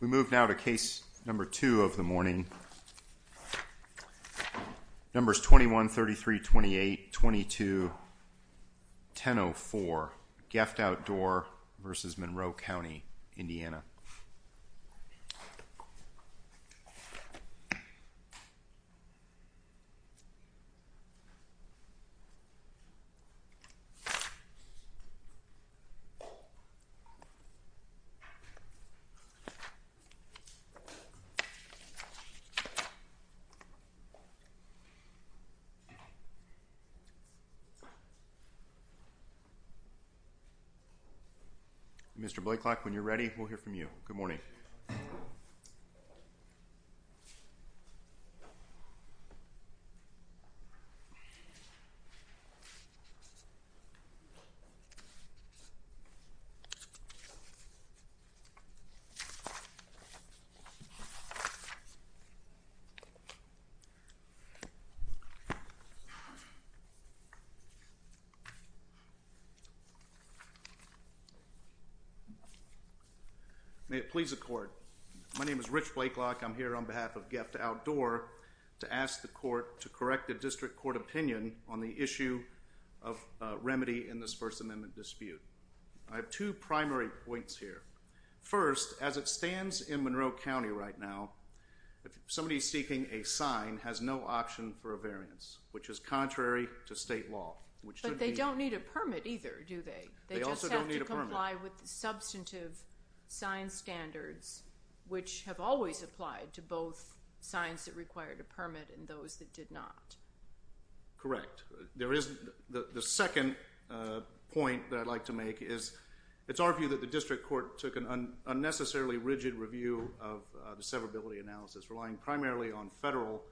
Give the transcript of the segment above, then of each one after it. We move now to case number two of the morning. Numbers 21, 33, 28, 22, 10-04, GEFT Outdoor v. Monroe County Indiana. Mr. Blaiklock, when you're ready, we'll hear from you. Good morning. May it please the court, my name is Rich Blaiklock. I'm here on behalf of GEFT Outdoor to ask the court to correct the district court opinion on the issue of remedy in this First Amendment dispute. I have two primary points here. First, as it stands in Monroe County right now, somebody seeking a sign has no option for a variance, which is contrary to state law. But they don't need a permit either, do they? They just have to comply with substantive sign standards, which have always applied to both signs that required a permit and those that did not. Correct. The second point that I'd like to make is it's argued that the district court took an unnecessarily rigid review of the severability analysis, relying primarily on federal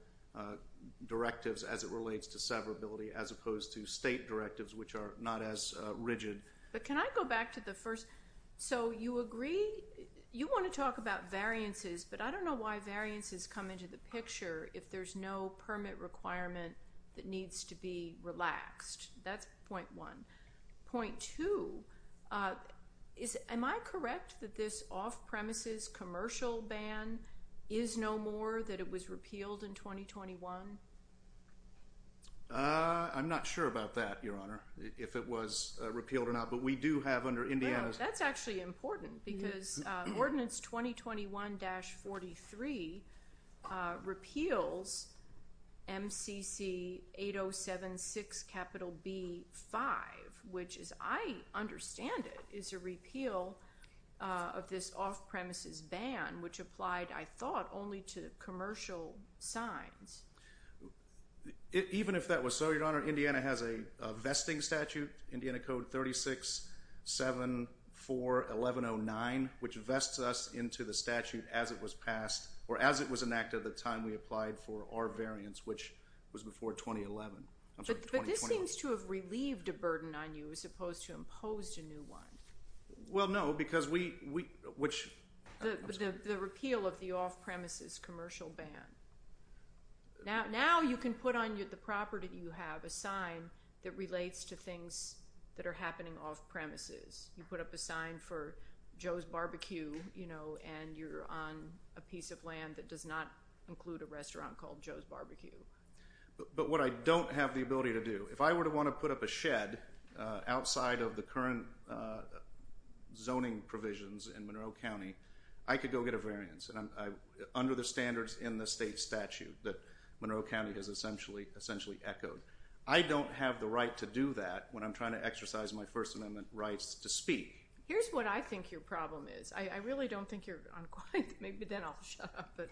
directives as it relates to severability, as opposed to state directives, which are not as rigid. But can I go back to the first? So you agree, you want to talk about variances, but I don't know why variances come into the picture if there's no permit requirement that needs to be relaxed. That's point one. Point two, am I correct that this off-premises commercial ban is no more that it was repealed in 2021? I'm not sure about that, Your Honor, if it was repealed or not, but we do have under Indiana's... That's actually important because Ordinance 2021-43 repeals MCC 8076 B-5. Which, as I understand it, is a repeal of this off-premises ban, which applied, I thought, only to commercial signs. Even if that was so, Your Honor, Indiana has a vesting statute, Indiana Code 36-74-1109, which vests us into the statute as it was passed or as it was enacted at the time we applied for our variance, which was before 2011. But this seems to have relieved a burden on you as opposed to imposed a new one. Well, no, because we... The repeal of the off-premises commercial ban. Now, you can put on the property you have a sign that relates to things that are happening off-premises. You put up a sign for Joe's Barbecue, you know, and you're on a piece of land that does not include a restaurant called Joe's Barbecue. But what I don't have the ability to do, if I were to want to put up a shed outside of the current zoning provisions in Monroe County, I could go get a variance and under the standards in the state statute that Monroe County has essentially echoed. I don't have the right to do that when I'm trying to exercise my First Amendment rights to speak. Here's what I think your problem is. I really don't think you're... I'm quiet, maybe then I'll shut up. But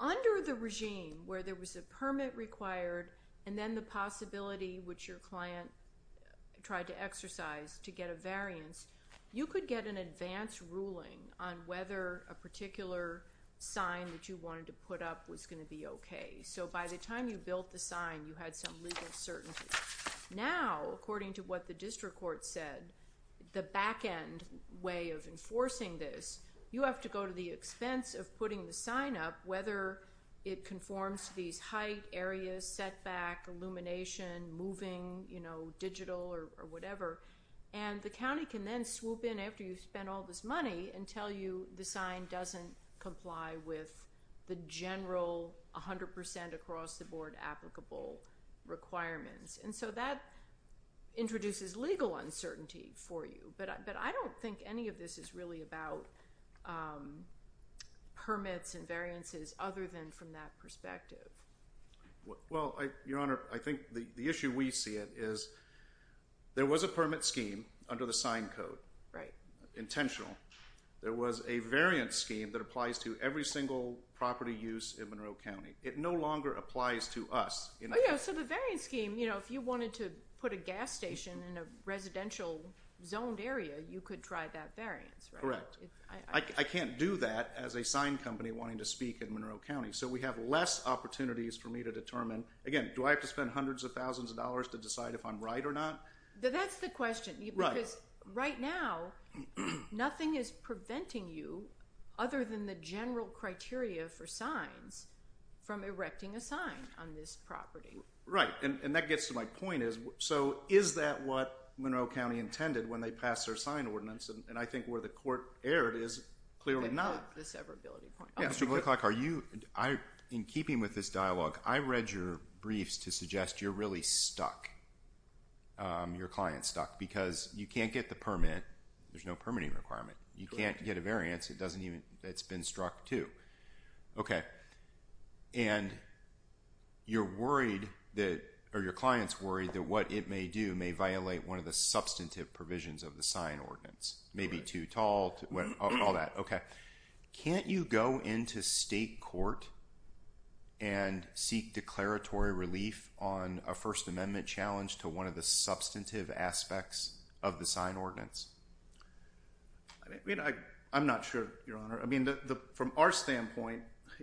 under the regime where there was a permit required and then the possibility which your client tried to exercise to get a variance, you could get an advance ruling on whether a particular sign that you wanted to put up was going to be okay. So by the time you built the sign, you had some legal certainty. Now, according to what the district court said, the back end way of enforcing this, you have to go to the expense of putting the sign up, whether it conforms to these height areas, setback, illumination, moving, you know, digital or whatever. And the county can then swoop in after you've spent all this money and tell you the sign doesn't comply with the general 100% across the board applicable requirements. And so that introduces legal uncertainty for you. But I don't think any of this is really about permits and variances other than from that perspective. Well, Your Honor, I think the issue we see it is there was a permit scheme under the sign code. Right. Intentional. There was a variance scheme that applies to every single property use in Monroe County. It no longer applies to us. So the variance scheme, you know, if you wanted to put a gas station in a residential zoned area, you could try that variance. Correct. I can't do that as a sign company wanting to speak in Monroe County. So we have less opportunities for me to determine, again, do I have to spend hundreds of thousands of dollars to decide if I'm right or not? That's the question, because right now nothing is preventing you other than the general criteria for signs from erecting a sign on this property. Right. And that gets to my point is, so is that what Monroe County intended when they pass their sign ordinance? And I think where the court erred is clearly not. The severability point. Yeah, Mr. Whitlock, are you, in keeping with this dialogue, I read your briefs to suggest you're really stuck. Your client's stuck because you can't get the permit. There's no permitting requirement. You can't get a variance. It doesn't even, it's been struck too. Okay. And you're worried that, or your client's worried that what it may do may violate one of the substantive provisions of the sign ordinance. Maybe too tall, all that. Okay. Can't you go into state court and seek declaratory relief on a First Amendment challenge to one of the substantive aspects of the sign ordinance? I mean, I'm not sure, Your Honor. I mean, from our standpoint,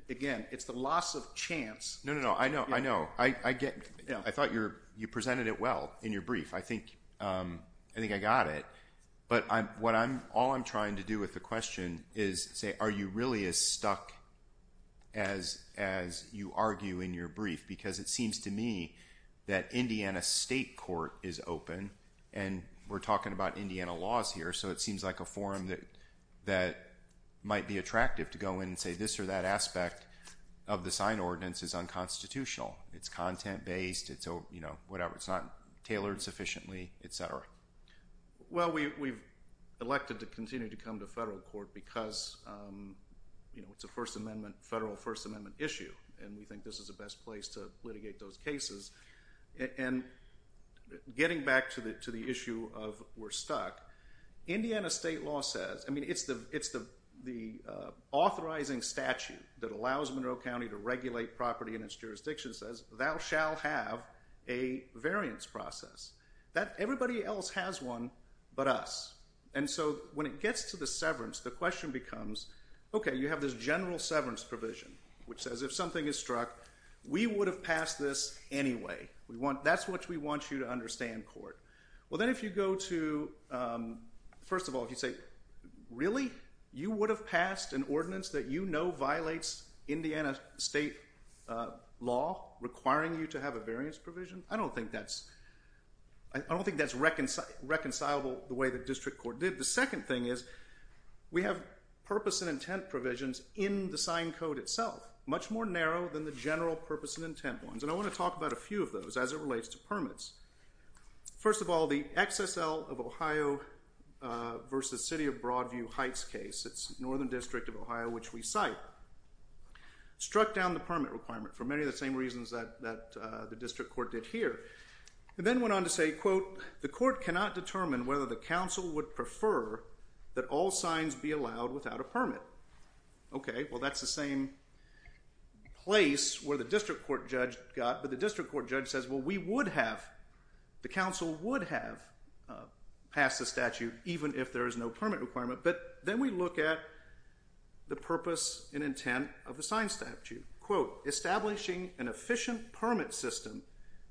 again, it's the loss of chance. No, no, no. I know. I know. I thought you presented it well in your brief. I think I got it, but all I'm trying to do with the question is say, are you really as stuck as you argue in your brief? Because it seems to me that Indiana State Court is open and we're talking about Indiana laws here. So it seems like a forum that might be attractive to go in and say this or that aspect of the sign ordinance is unconstitutional. It's content based. It's, you know, whatever. It's not tailored sufficiently, et cetera. Well, we elected to continue to come to federal court because it's a First Amendment, federal First Amendment issue, and we think this is the best place to litigate those cases. And getting back to the issue of we're stuck, Indiana state law says, I mean, it's the authorizing statute that allows Monroe County to regulate property in its jurisdiction says thou shall have a variance process that everybody else has one but us. And so when it gets to the severance, the question becomes, okay, you have this general severance provision, which anyway, we want, that's what we want you to understand court. Well, then if you go to, first of all, if you say, really, you would have passed an ordinance that you know violates Indiana state law requiring you to have a variance provision. I don't think that's, I don't think that's reconcilable the way the district court did. The second thing is we have purpose and intent provisions in the sign code itself, much more narrow than the general purpose and intent ones. And I want to talk about a few of those as it relates to permits. First of all, the XSL of Ohio versus city of Broadview Heights case, it's Northern district of Ohio, which we cite, struck down the permit requirement for many of the same reasons that the district court did here. And then went on to say, quote, the court cannot determine whether the council would prefer that all signs be allowed without a permit. Okay. Well, that's the same place where the district court judge got, but the district court judge says, well, we would have, the council would have passed the statute, even if there is no permit requirement. But then we look at the purpose and intent of the sign statute, quote, establishing an efficient permit system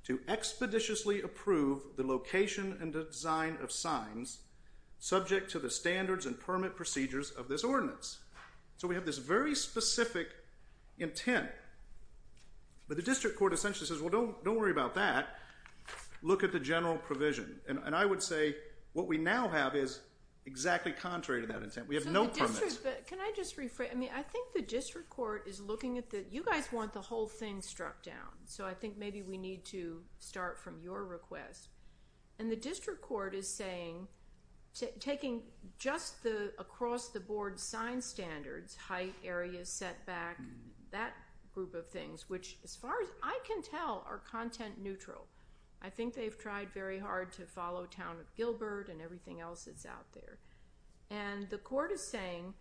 to expeditiously approve the location and design of signs subject to the standards and permit procedures of this ordinance. So we have this very specific intent, but the district court essentially says, well, don't, don't worry about that. Look at the general provision. And I would say what we now have is exactly contrary to that intent. We have no permits. Can I just rephrase? I mean, I think the district court is looking at the, you guys want the whole thing struck down. So I think maybe we need to start from your request and the district court is saying, taking just the across the board sign standards, height areas, setback, that group of things, which as far as I can tell, are content neutral. I think they've tried very hard to follow town of Gilbert and everything else that's out there. And the court is saying,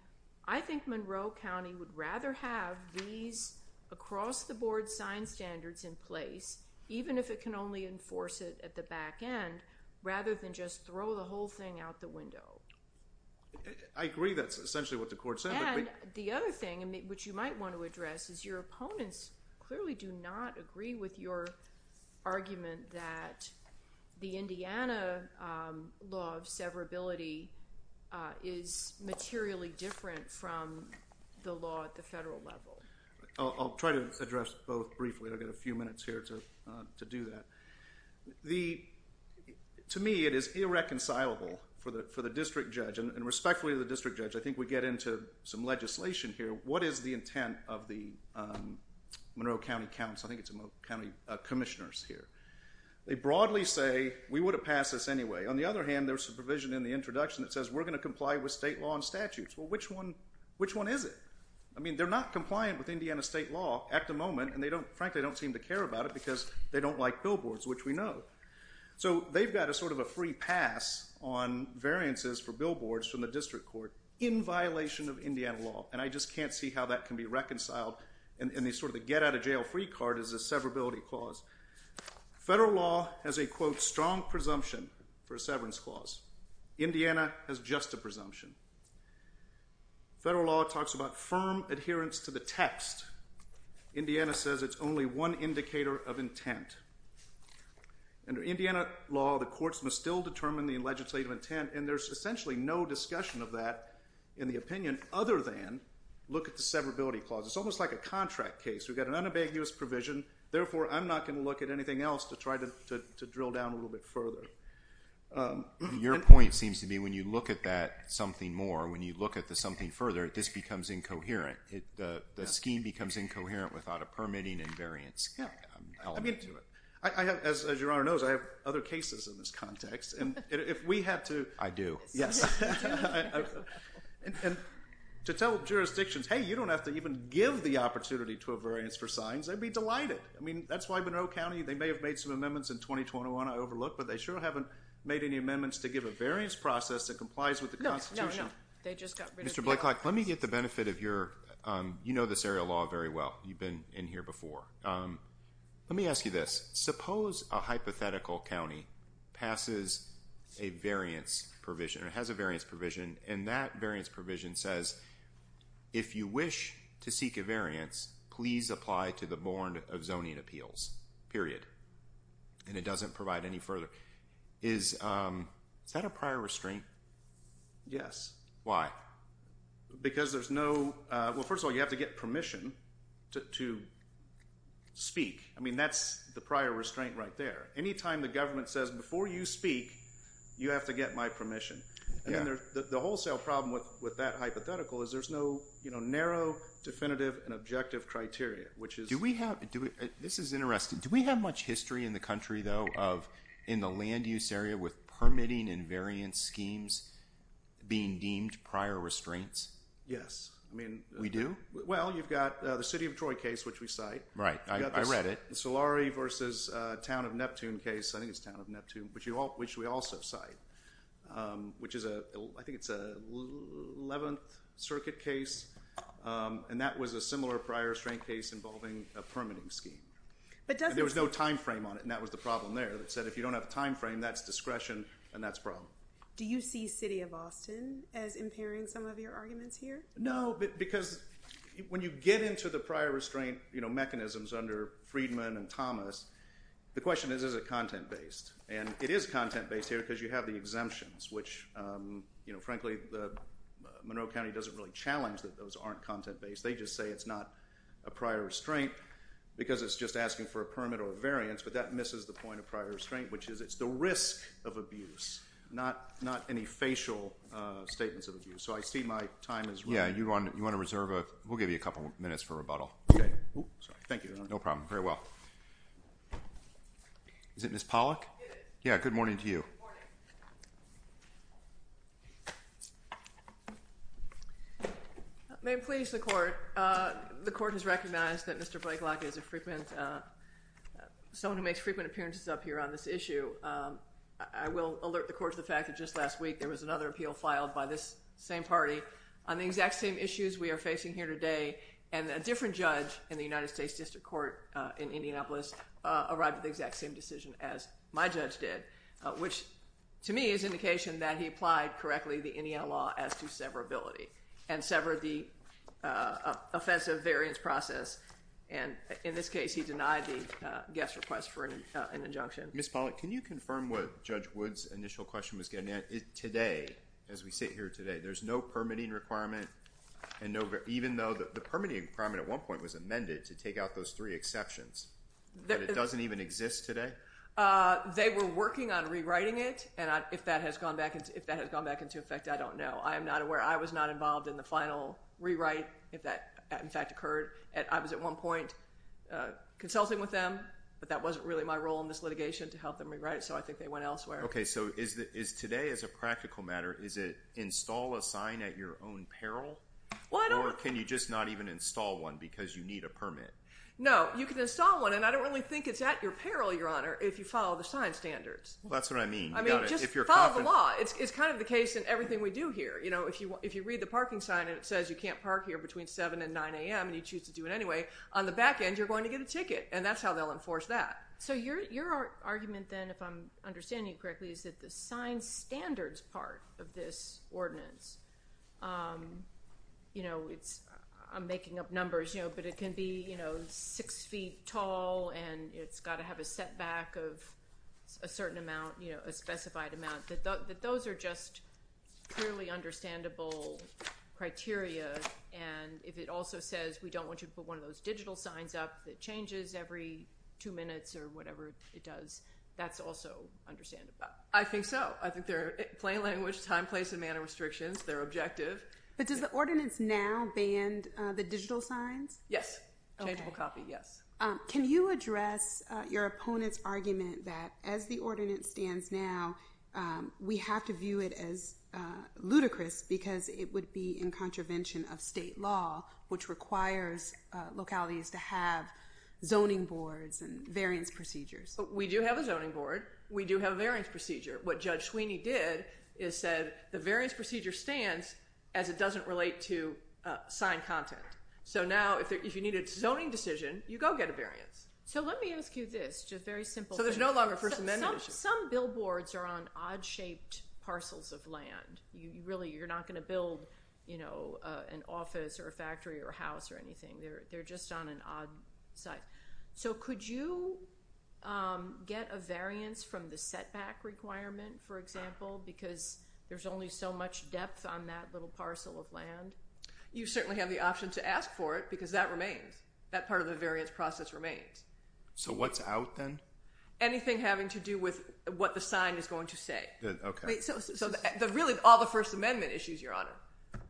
I think Monroe County would rather have these across the board sign standards in place, even if it can only enforce it at the back end, rather than just throw the whole thing out the window. I agree. That's essentially what the court said. And the other thing which you might want to address is your opponents clearly do not agree with your argument that the Indiana law of severability is materially different from the law at the federal level. I'll try to address both briefly. I've got a few minutes here to do that. To me, it is irreconcilable for the district judge and respectfully to the district judge. I think we get into some legislation here. What is the intent of the Monroe County Council? I think it's a county commissioners here. They broadly say we would have passed this anyway. On the other hand, there's a provision in the introduction that says we're going to comply with state law and statutes. Well, which one, which one is it? I mean, they're not compliant with Indiana state law at the moment, and they don't, frankly, don't seem to care about it because they don't like billboards, which we know. So they've got a sort of a free pass on variances for billboards from the district court in violation of Indiana law. And I just can't see how that can be reconciled. And they sort of get out of jail free card is a severability clause. Federal law has a quote, strong presumption for a severance clause. Indiana has just a presumption. Federal law talks about firm adherence to the text. Indiana says it's only one indicator of intent. Under Indiana law, the courts must still determine the legislative intent. And there's essentially no discussion of that in the look at the severability clause. It's almost like a contract case. We've got an unambiguous provision. Therefore, I'm not going to look at anything else to try to drill down a little bit further. Your point seems to be when you look at that something more when you look at the something further, this becomes incoherent. The scheme becomes incoherent without a permitting and variance element to it. I have, as your honor knows, I have other cases in this context. And if we have to, I do. Yes. To tell jurisdictions, hey, you don't have to even give the opportunity to a variance for signs. They'd be delighted. I mean, that's why Monroe County, they may have made some amendments in 2021. I overlooked, but they sure haven't made any amendments to give a variance process that complies with the Constitution. They just got rid of Mr. Blake. Like, let me get the benefit of your, you know, this area law very well. You've been in here before. Let me ask you this. Suppose a hypothetical County passes a variance provision or has a variance provision and that variance provision says if you wish to seek a variance, please apply to the board of zoning appeals period and it doesn't provide any further. Is that a prior restraint? Yes, why? Because there's no well, first of all, you have to get permission to speak. I mean, that's the prior restraint right there. Anytime the government says before you speak, you have to get my permission. Yeah, the wholesale problem with that hypothetical is there's no, you know, narrow definitive and objective criteria, which is do we have to do it? This is interesting. Do we have much history in the country though of in the land use area with permitting and variance schemes being deemed prior restraints? Yes. I mean, we do. Well, you've got the city of Troy case, which we cite, Right, I read it. Solari versus town of Neptune case. I think it's town of Neptune, which we also cite, which is a, I think it's a 11th circuit case. And that was a similar prior strength case involving a permitting scheme, but there was no time frame on it. And that was the problem there that said if you don't have a time frame, that's discretion and that's problem. Do you see city of Austin as impairing some of your arguments here? No, but because when you get into the prior restraint, you know, mechanisms under Friedman and Thomas, the question is, is it content based? And it is content based here because you have the exemptions which, you know, frankly, the Monroe County doesn't really challenge that those aren't content based. They just say it's not a prior restraint because it's just asking for a permit or variance, but that misses the point of prior restraint, which is it's the risk of abuse, not not any facial statements of abuse. So I see my time is, yeah, you want, you want to reserve a, we'll give you a couple minutes for rebuttal. Okay. Thank you. No problem. Very well. Is it Miss Pollack? Yeah. Good morning to you. May please the court. The court has recognized that Mr. Blake lock is a frequent someone who makes frequent appearances up here on this issue. I will alert the court to the fact that just last week there was another appeal filed by this same party on the exact same issues we are facing here today and a different judge in the United States district court in Indianapolis arrived at the exact same decision as my judge did, which to me is indication that he applied correctly the Indiana law as to severability and severed the offensive variance process. And in this case, he denied the guest request for an injunction. Miss Pollack. Can you confirm what judge Woods initial question was getting at it today as we sit here today, there's no permitting requirement and no, even though the permitting requirement at one point was amended to take out those three exceptions that it doesn't even exist today. They were working on rewriting it and I if that has gone back into if that has gone back into effect. I don't know. I am not aware. I was not involved in the final rewrite if that in fact occurred and I was at one point consulting with them, but that wasn't really my role in this litigation to help them rewrite it. So I think they went elsewhere. Okay. So is that is today as a practical matter? Is it install a sign at your own peril? Well, I don't work. Can you just not even install one because you need a permit? No, you can install one and I don't really think it's at your peril. Your Honor. If you follow the sign standards, that's what I mean. I mean just follow the law. It's kind of the case in everything we do here. You know, if you if you read the parking sign and it says you can't park here between 7 and 9 a.m. And you choose to do it. Anyway on the back end, you're going to get a ticket and that's how they'll enforce that. So your argument then if I'm understanding correctly, is that the sign standards part of this ordinance, you know, it's I'm making up numbers, you know, but it can be, you know, six feet tall and it's got to have a setback of a certain amount, you know, a specified amount that those are just clearly understandable criteria. And if it also says we don't want you to put one of those digital signs up that changes every two minutes or whatever it does. That's also understandable. I think so. I think they're plain language time place and manner restrictions. They're objective. But does the ordinance now banned the digital signs? Yes, changeable copy. Yes. Can you address your opponent's argument that as the ordinance stands now we have to view it as ludicrous because it would be in contravention of state law which requires localities to have zoning boards and variance procedures. We do have a zoning board. We do have a variance procedure. What judge Sweeney did is said the variance procedure stands as it doesn't relate to sign content. So now if you need a zoning decision, you go get a variance. So let me ask you this just very simple. So there's no longer First Amendment. Some billboards are on odd shaped parcels of land. You really you're not going to build, you know, an office or a factory or house or anything. They're just on an odd side. So could you get a variance from the setback requirement? For example, because there's only so much depth on that little parcel of land. You certainly have the option to ask for it because that remains that part of the variance process remains. So what's out then anything having to do with what the sign is going to say? Okay, so the really all the First Amendment issues your honor,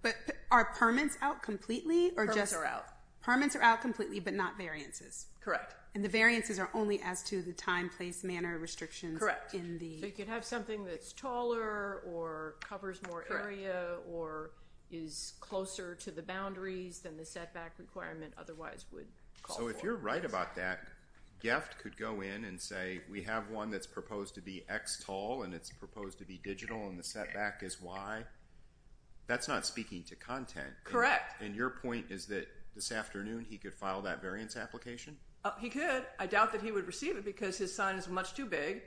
but our permits out completely or just are out permits are out completely but not variances. Correct. And the variances are only as to the time place manner restrictions. Correct in the you could have something that's taller or covers more area or is closer to the boundaries than the setback requirement. Otherwise would so if you're right about that gift could go in and say we have one that's proposed to be X tall and it's proposed to be digital and the setback is why that's not speaking to content. Correct. And your point is that this afternoon he could file that variance application. He could I doubt that he would receive it because his sign is much too big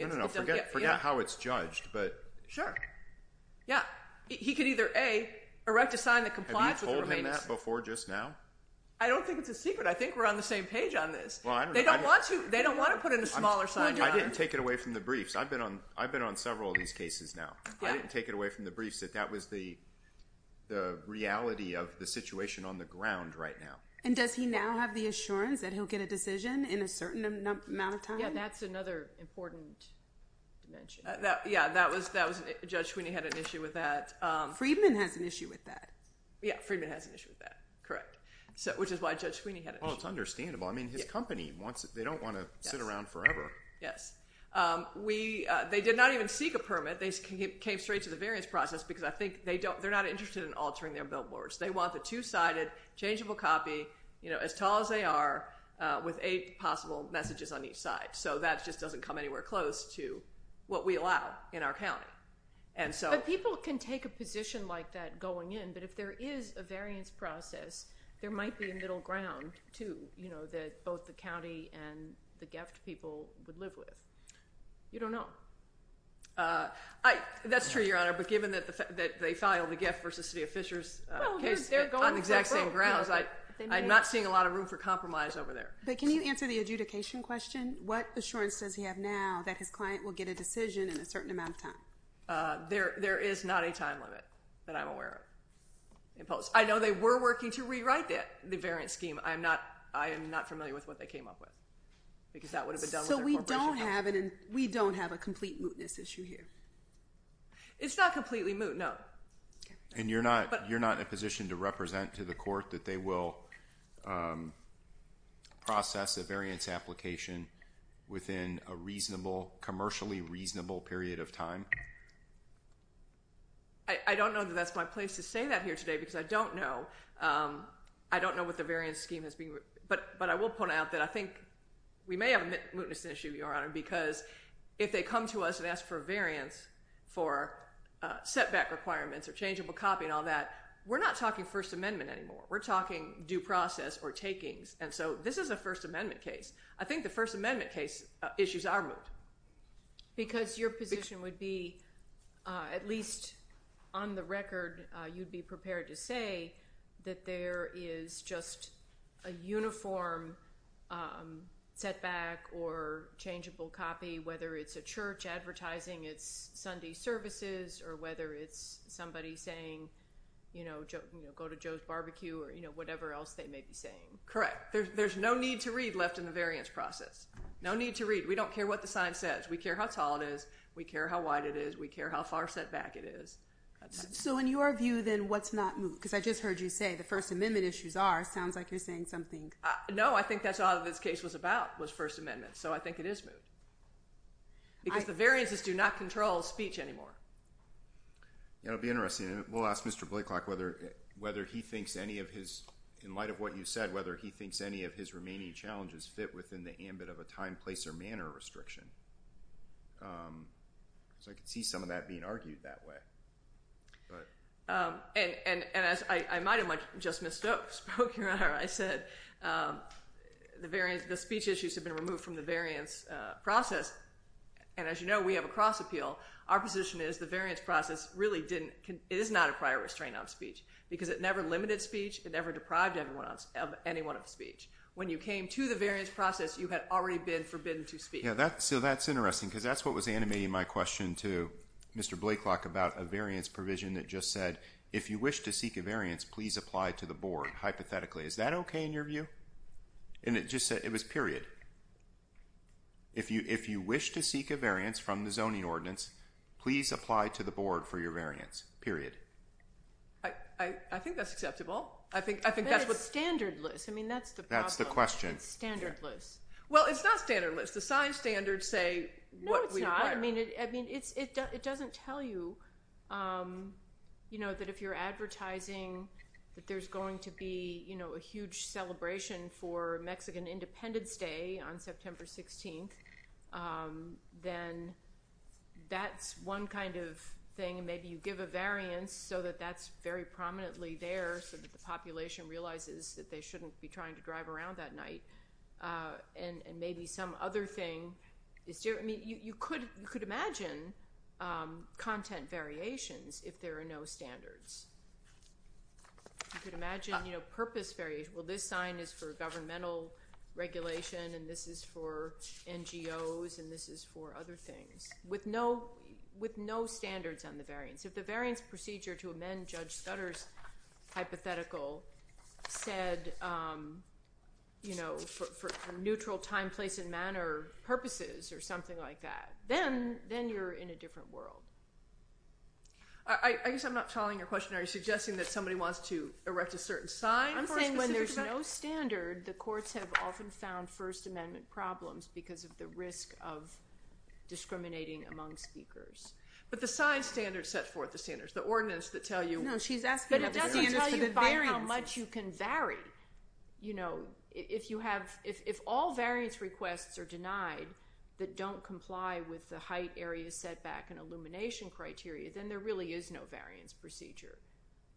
and I'll forget forget how it's judged. But sure. Yeah, he could either a erect a sign that complies with remaining that before just now. I don't think it's a secret. I think we're on the same page on this one. They don't want to they don't want to put in a smaller sign. I didn't take it away from the briefs. I've been on I've been on several of these cases. Now, I didn't take it away from the briefs that that was the the reality of the situation on the ground right now and does he now have the assurance that he'll get a decision in a certain amount of time? Yeah, that's another important mention that yeah, that was that was a judge when he had an issue with that Friedman has an issue with that. Yeah, Friedman has an issue with that. Correct. So which is why judge Sweeney had it's understandable. I mean his company wants it. They don't want to sit around forever. Yes, we they did not even seek a permit. They came straight to the variance process because I think they don't they're not interested in altering their billboards. They want the two-sided changeable copy, you know as tall as they are with a possible messages on each side. So that just doesn't come anywhere close to what we allow in our County. And so people can take a position like that going in but if there is a variance process there might be a middle ground to you know that both the County and the gift people would live with it. You don't know I that's true Your Honor, but given that the that they filed the gift versus City of Fishers case. They're going on the exact same grounds. Like I'm not seeing a lot of room for compromise over there, but can you answer the adjudication question? What assurance does he have now that his client will get a decision in a certain amount of time there? There is not a time limit that I'm aware of in post. I know they were working to rewrite that the variance scheme. I'm not I am not familiar with what they came up with because that would have been done. So we don't have it and we don't have a complete mootness issue here. It's not completely moot. No, and you're not you're not in a position to represent to the court that they will process a variance application within a reasonable commercially reasonable period of time. I don't know that that's my place to say that here today because I don't know I don't know what the variance scheme has been but but I will point out that I think we may have a mootness issue your honor because if they come to us and for variance for setback requirements or changeable copy and all that we're not talking First Amendment anymore. We're talking due process or takings. And so this is a First Amendment case. I think the First Amendment case issues are moot. Because your position would be at least on the record you'd be prepared to say that there is just a uniform setback or Tiesing it's Sunday services or whether it's somebody saying, you know, go to Joe's barbecue or you know, whatever else they may be saying correct. There's no need to read left in the variance process. No need to read. We don't care what the sign says. We care how tall it is. We care how wide it is. We care how far setback it is. So in your view then what's not moot because I just heard you say the First Amendment issues are sounds like you're saying something. No, I think that's all this case was about was First Amendment. So I think it is moot. Because the variances do not control speech anymore. It'll be interesting and we'll ask Mr. Blake lock whether whether he thinks any of his in light of what you said whether he thinks any of his remaining challenges fit within the ambit of a time place or manner restriction. So I can see some of that being argued that way. And and as I might have much just missed out spoke here. I said the variance the speech issues have been removed from the variance process. And as you know, we have a cross appeal our position is the variance process really didn't it is not a prior restraint on speech because it never limited speech and never deprived everyone else of anyone of speech when you came to the variance process. You had already been forbidden to speak. Yeah, that's so that's interesting because that's what was animating my question to Mr. Blake lock about a variance provision that just said if you wish to seek a variance, please apply to the board hypothetically. Is that okay in your view? And it just said it was period. If you if you wish to seek a variance from the zoning ordinance, please apply to the board for your variance period. I think that's acceptable. I think I think that's what standard list. I mean, that's the that's the question standard list. Well, it's not standard list the sign standards say what we mean it. I mean, it's it doesn't tell you, you know that if you're advertising that there's going to be, you know, a huge celebration for Mexican Independence Day on September 16th, then that's one kind of thing. Maybe you give a variance so that that's very prominently there. So that the population realizes that they shouldn't be trying to drive around that night and maybe some other thing is different. I mean, you could you could imagine content variations if there are no standards. You could imagine, you know, purpose very well. This sign is for governmental regulation and this is for NGOs and this is for other things with no with no standards on the variance. If the variance procedure to amend Judge Stutter's hypothetical said, you know, for neutral time place and manner purposes or something like that, then then you're in a different world. I guess I'm not following your question. Are you suggesting that somebody wants to erect a certain sign? I'm saying when there's no standard the courts have often found First Amendment problems because of the risk of discriminating among speakers, but the sign standard set forth the standards the ordinance that tell you know, she's asking how much you can vary, you know, if you have if all variance requests are denied that don't comply with the height area setback and illumination criteria, then there really is no variance procedure.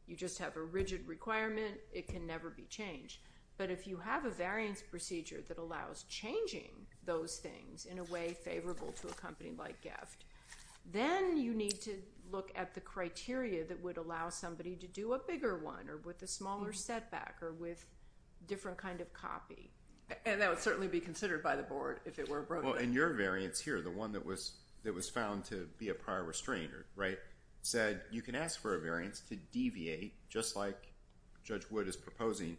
You just have a rigid requirement. It can never be changed. But if you have a variance procedure that allows changing those things in a way favorable to a company like gift, then you need to look at the criteria that would allow somebody to do a bigger one or with a smaller setback or with different kind of copy and that would certainly be considered by the board. If it were broken your variance here the one that was that was found to be a prior restrainer right said you can ask for a variance to deviate just like Judge Wood is proposing.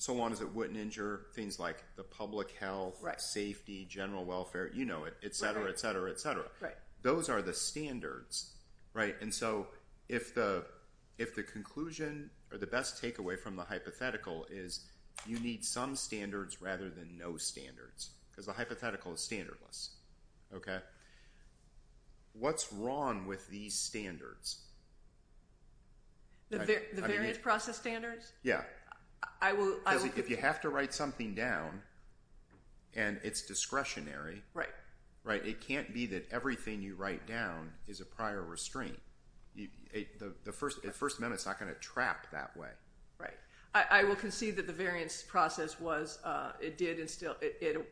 So long as it wouldn't injure things like the public health right safety general welfare, you know it etc. Etc. Etc. Right. Those are the standards right? And so if the if the conclusion or the best takeaway from the hypothetical is you need some standards rather than no standards because the hypothetical is standardless. Okay. What's wrong with these standards? The variance process standards. Yeah, I will if you have to write something down and it's discretionary, right? Right. It can't be that everything you write down is a prior restraint. The first minute is not going to trap that way, right? I will concede that the variance process was it did instill it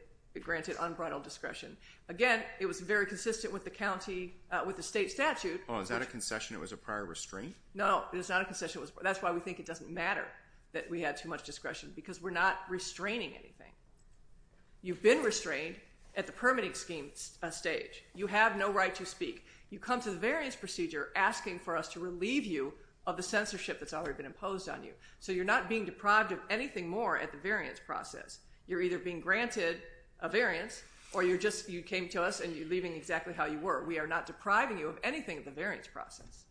granted unbridled discretion again. It was very consistent with the county with the state statute. Oh, is that a concession? It was a prior restraint. No, it's not a concession was that's why we think it doesn't matter that we had too much discretion because we're not restraining anything. You've been restrained at the permitting schemes stage. You have no right to speak you come to the variance procedure asking for us to relieve you of the censorship that's already been imposed on you. So you're not being deprived of anything more at the variance process. You're either being granted a variance or you're just you came to us and you're leaving exactly how you were. We are not depriving you of anything at the variance process.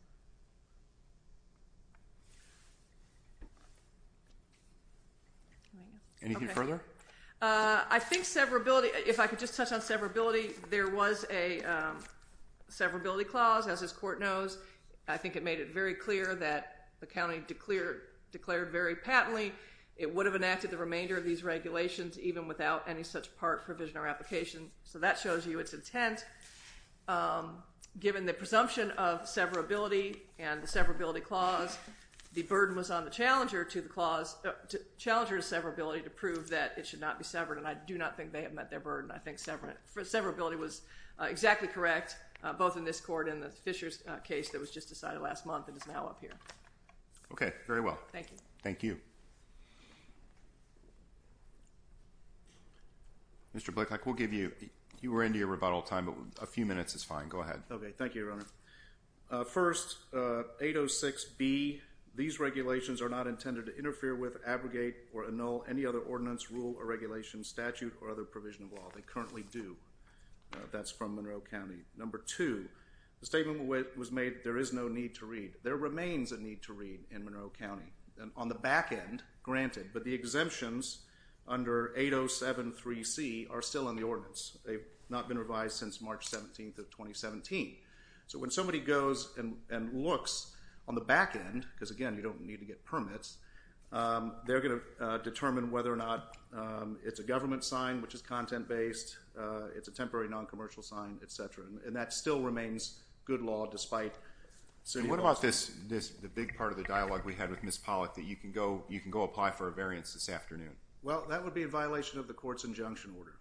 Anything further? I think severability if I could just touch on severability there was a severability clause as this court knows. I think it made it very clear that the county declared declared very patently. It would have enacted the remainder of these regulations even without any such part provision or application. So that shows you its intent given the presumption of severability and the severability clause the burden was on the challenger to the clause to challenger to severability to prove that it should not be severed and I do not think they have met their burden. I think severability was exactly correct both in this court in the Fishers case that was just decided last month and is now up here. Okay, very well. Thank you. Thank you. Mr. Blake, I will give you you were into your rebuttal time, but a few minutes is fine. Go ahead. Okay. Thank you, Your Honor. First 806 be these regulations are not intended to interfere with abrogate or annul any other ordinance rule or regulation statute or other provision of law. They currently do that's from Monroe County number to the statement was made. There is no need to read there remains a need to read in Monroe County and on the back end granted, but the exemption under 807 3 C are still in the ordinance. They've not been revised since March 17th of 2017. So when somebody goes and looks on the back end because again, you don't need to get permits. They're going to determine whether or not it's a government sign, which is content-based. It's a temporary non-commercial sign Etc. And that still remains good law despite. So what about this this the big part of the dialogue we had with Miss Pollack that you can go you can go apply for a Afternoon. Well, that would be a violation of the court's injunction order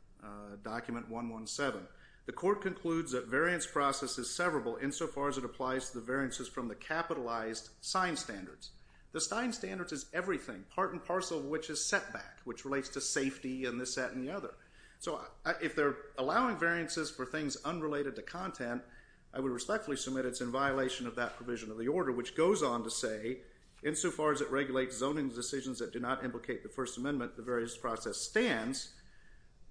document 117. The court concludes that variance process is severable insofar as it applies to the variances from the capitalized sign standards. The Stein standards is everything part and parcel of which is setback which relates to safety and this at any other. So if they're allowing variances for things unrelated to content, I would respectfully submit. It's in violation of that provision of the order which goes on to say insofar as it regulates zoning decisions that do not implicate the First Amendment the various process stands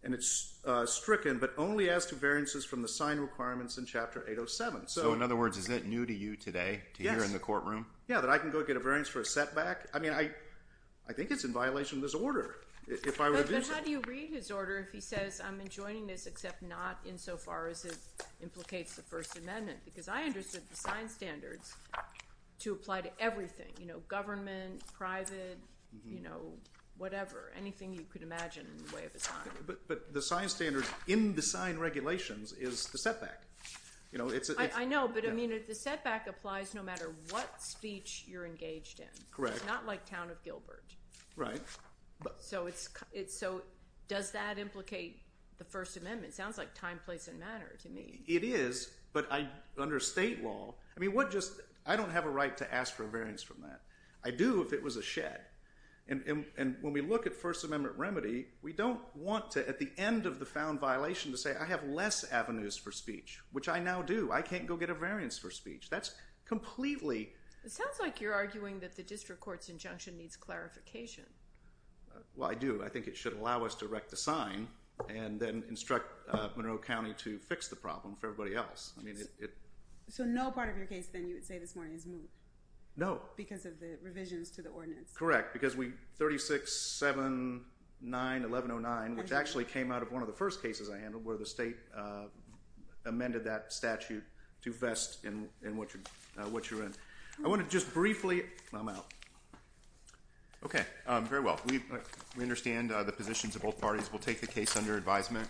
and it's stricken but only as to variances from the sign requirements in chapter 807. So in other words, is it new to you today to hear in the courtroom? Yeah, but I can go get a variance for a setback. I mean, I I think it's in violation of this order if I would do so. How do you read his order? If he says I'm enjoining this except not insofar as it implicates the First Amendment because I understood the sign standards to apply to everything, you know government private, you know, whatever anything you could imagine way of the time, but the sign standards in the sign regulations is the setback, you know, it's a I know but I mean if the setback applies no matter what speech you're engaged in correct not like town of Gilbert, right? So it's it's so does that implicate the First Amendment sounds like time place and matter to me it is but I under state law. I mean what just I don't have a right to ask for a variance from that. I do if it was a shed and when we look at First Amendment remedy, we don't want to at the end of the found violation to say I have less avenues for speech, which I now do I can't go get a variance for speech. That's completely it sounds like you're arguing that the district courts injunction needs clarification. Well, I do I think it should allow us to wreck the sign and then instruct Monroe County to fix the problem for everybody else. I mean it so no part of your case then you would say this mean no because of the revisions to the ordinance correct because we 36 7 9 1109 which actually came out of one of the first cases. I handled where the state amended that statute to vest in in what you what you're in. I want to just briefly come out. Okay, very well. We understand the positions of both parties will take the case under advisement.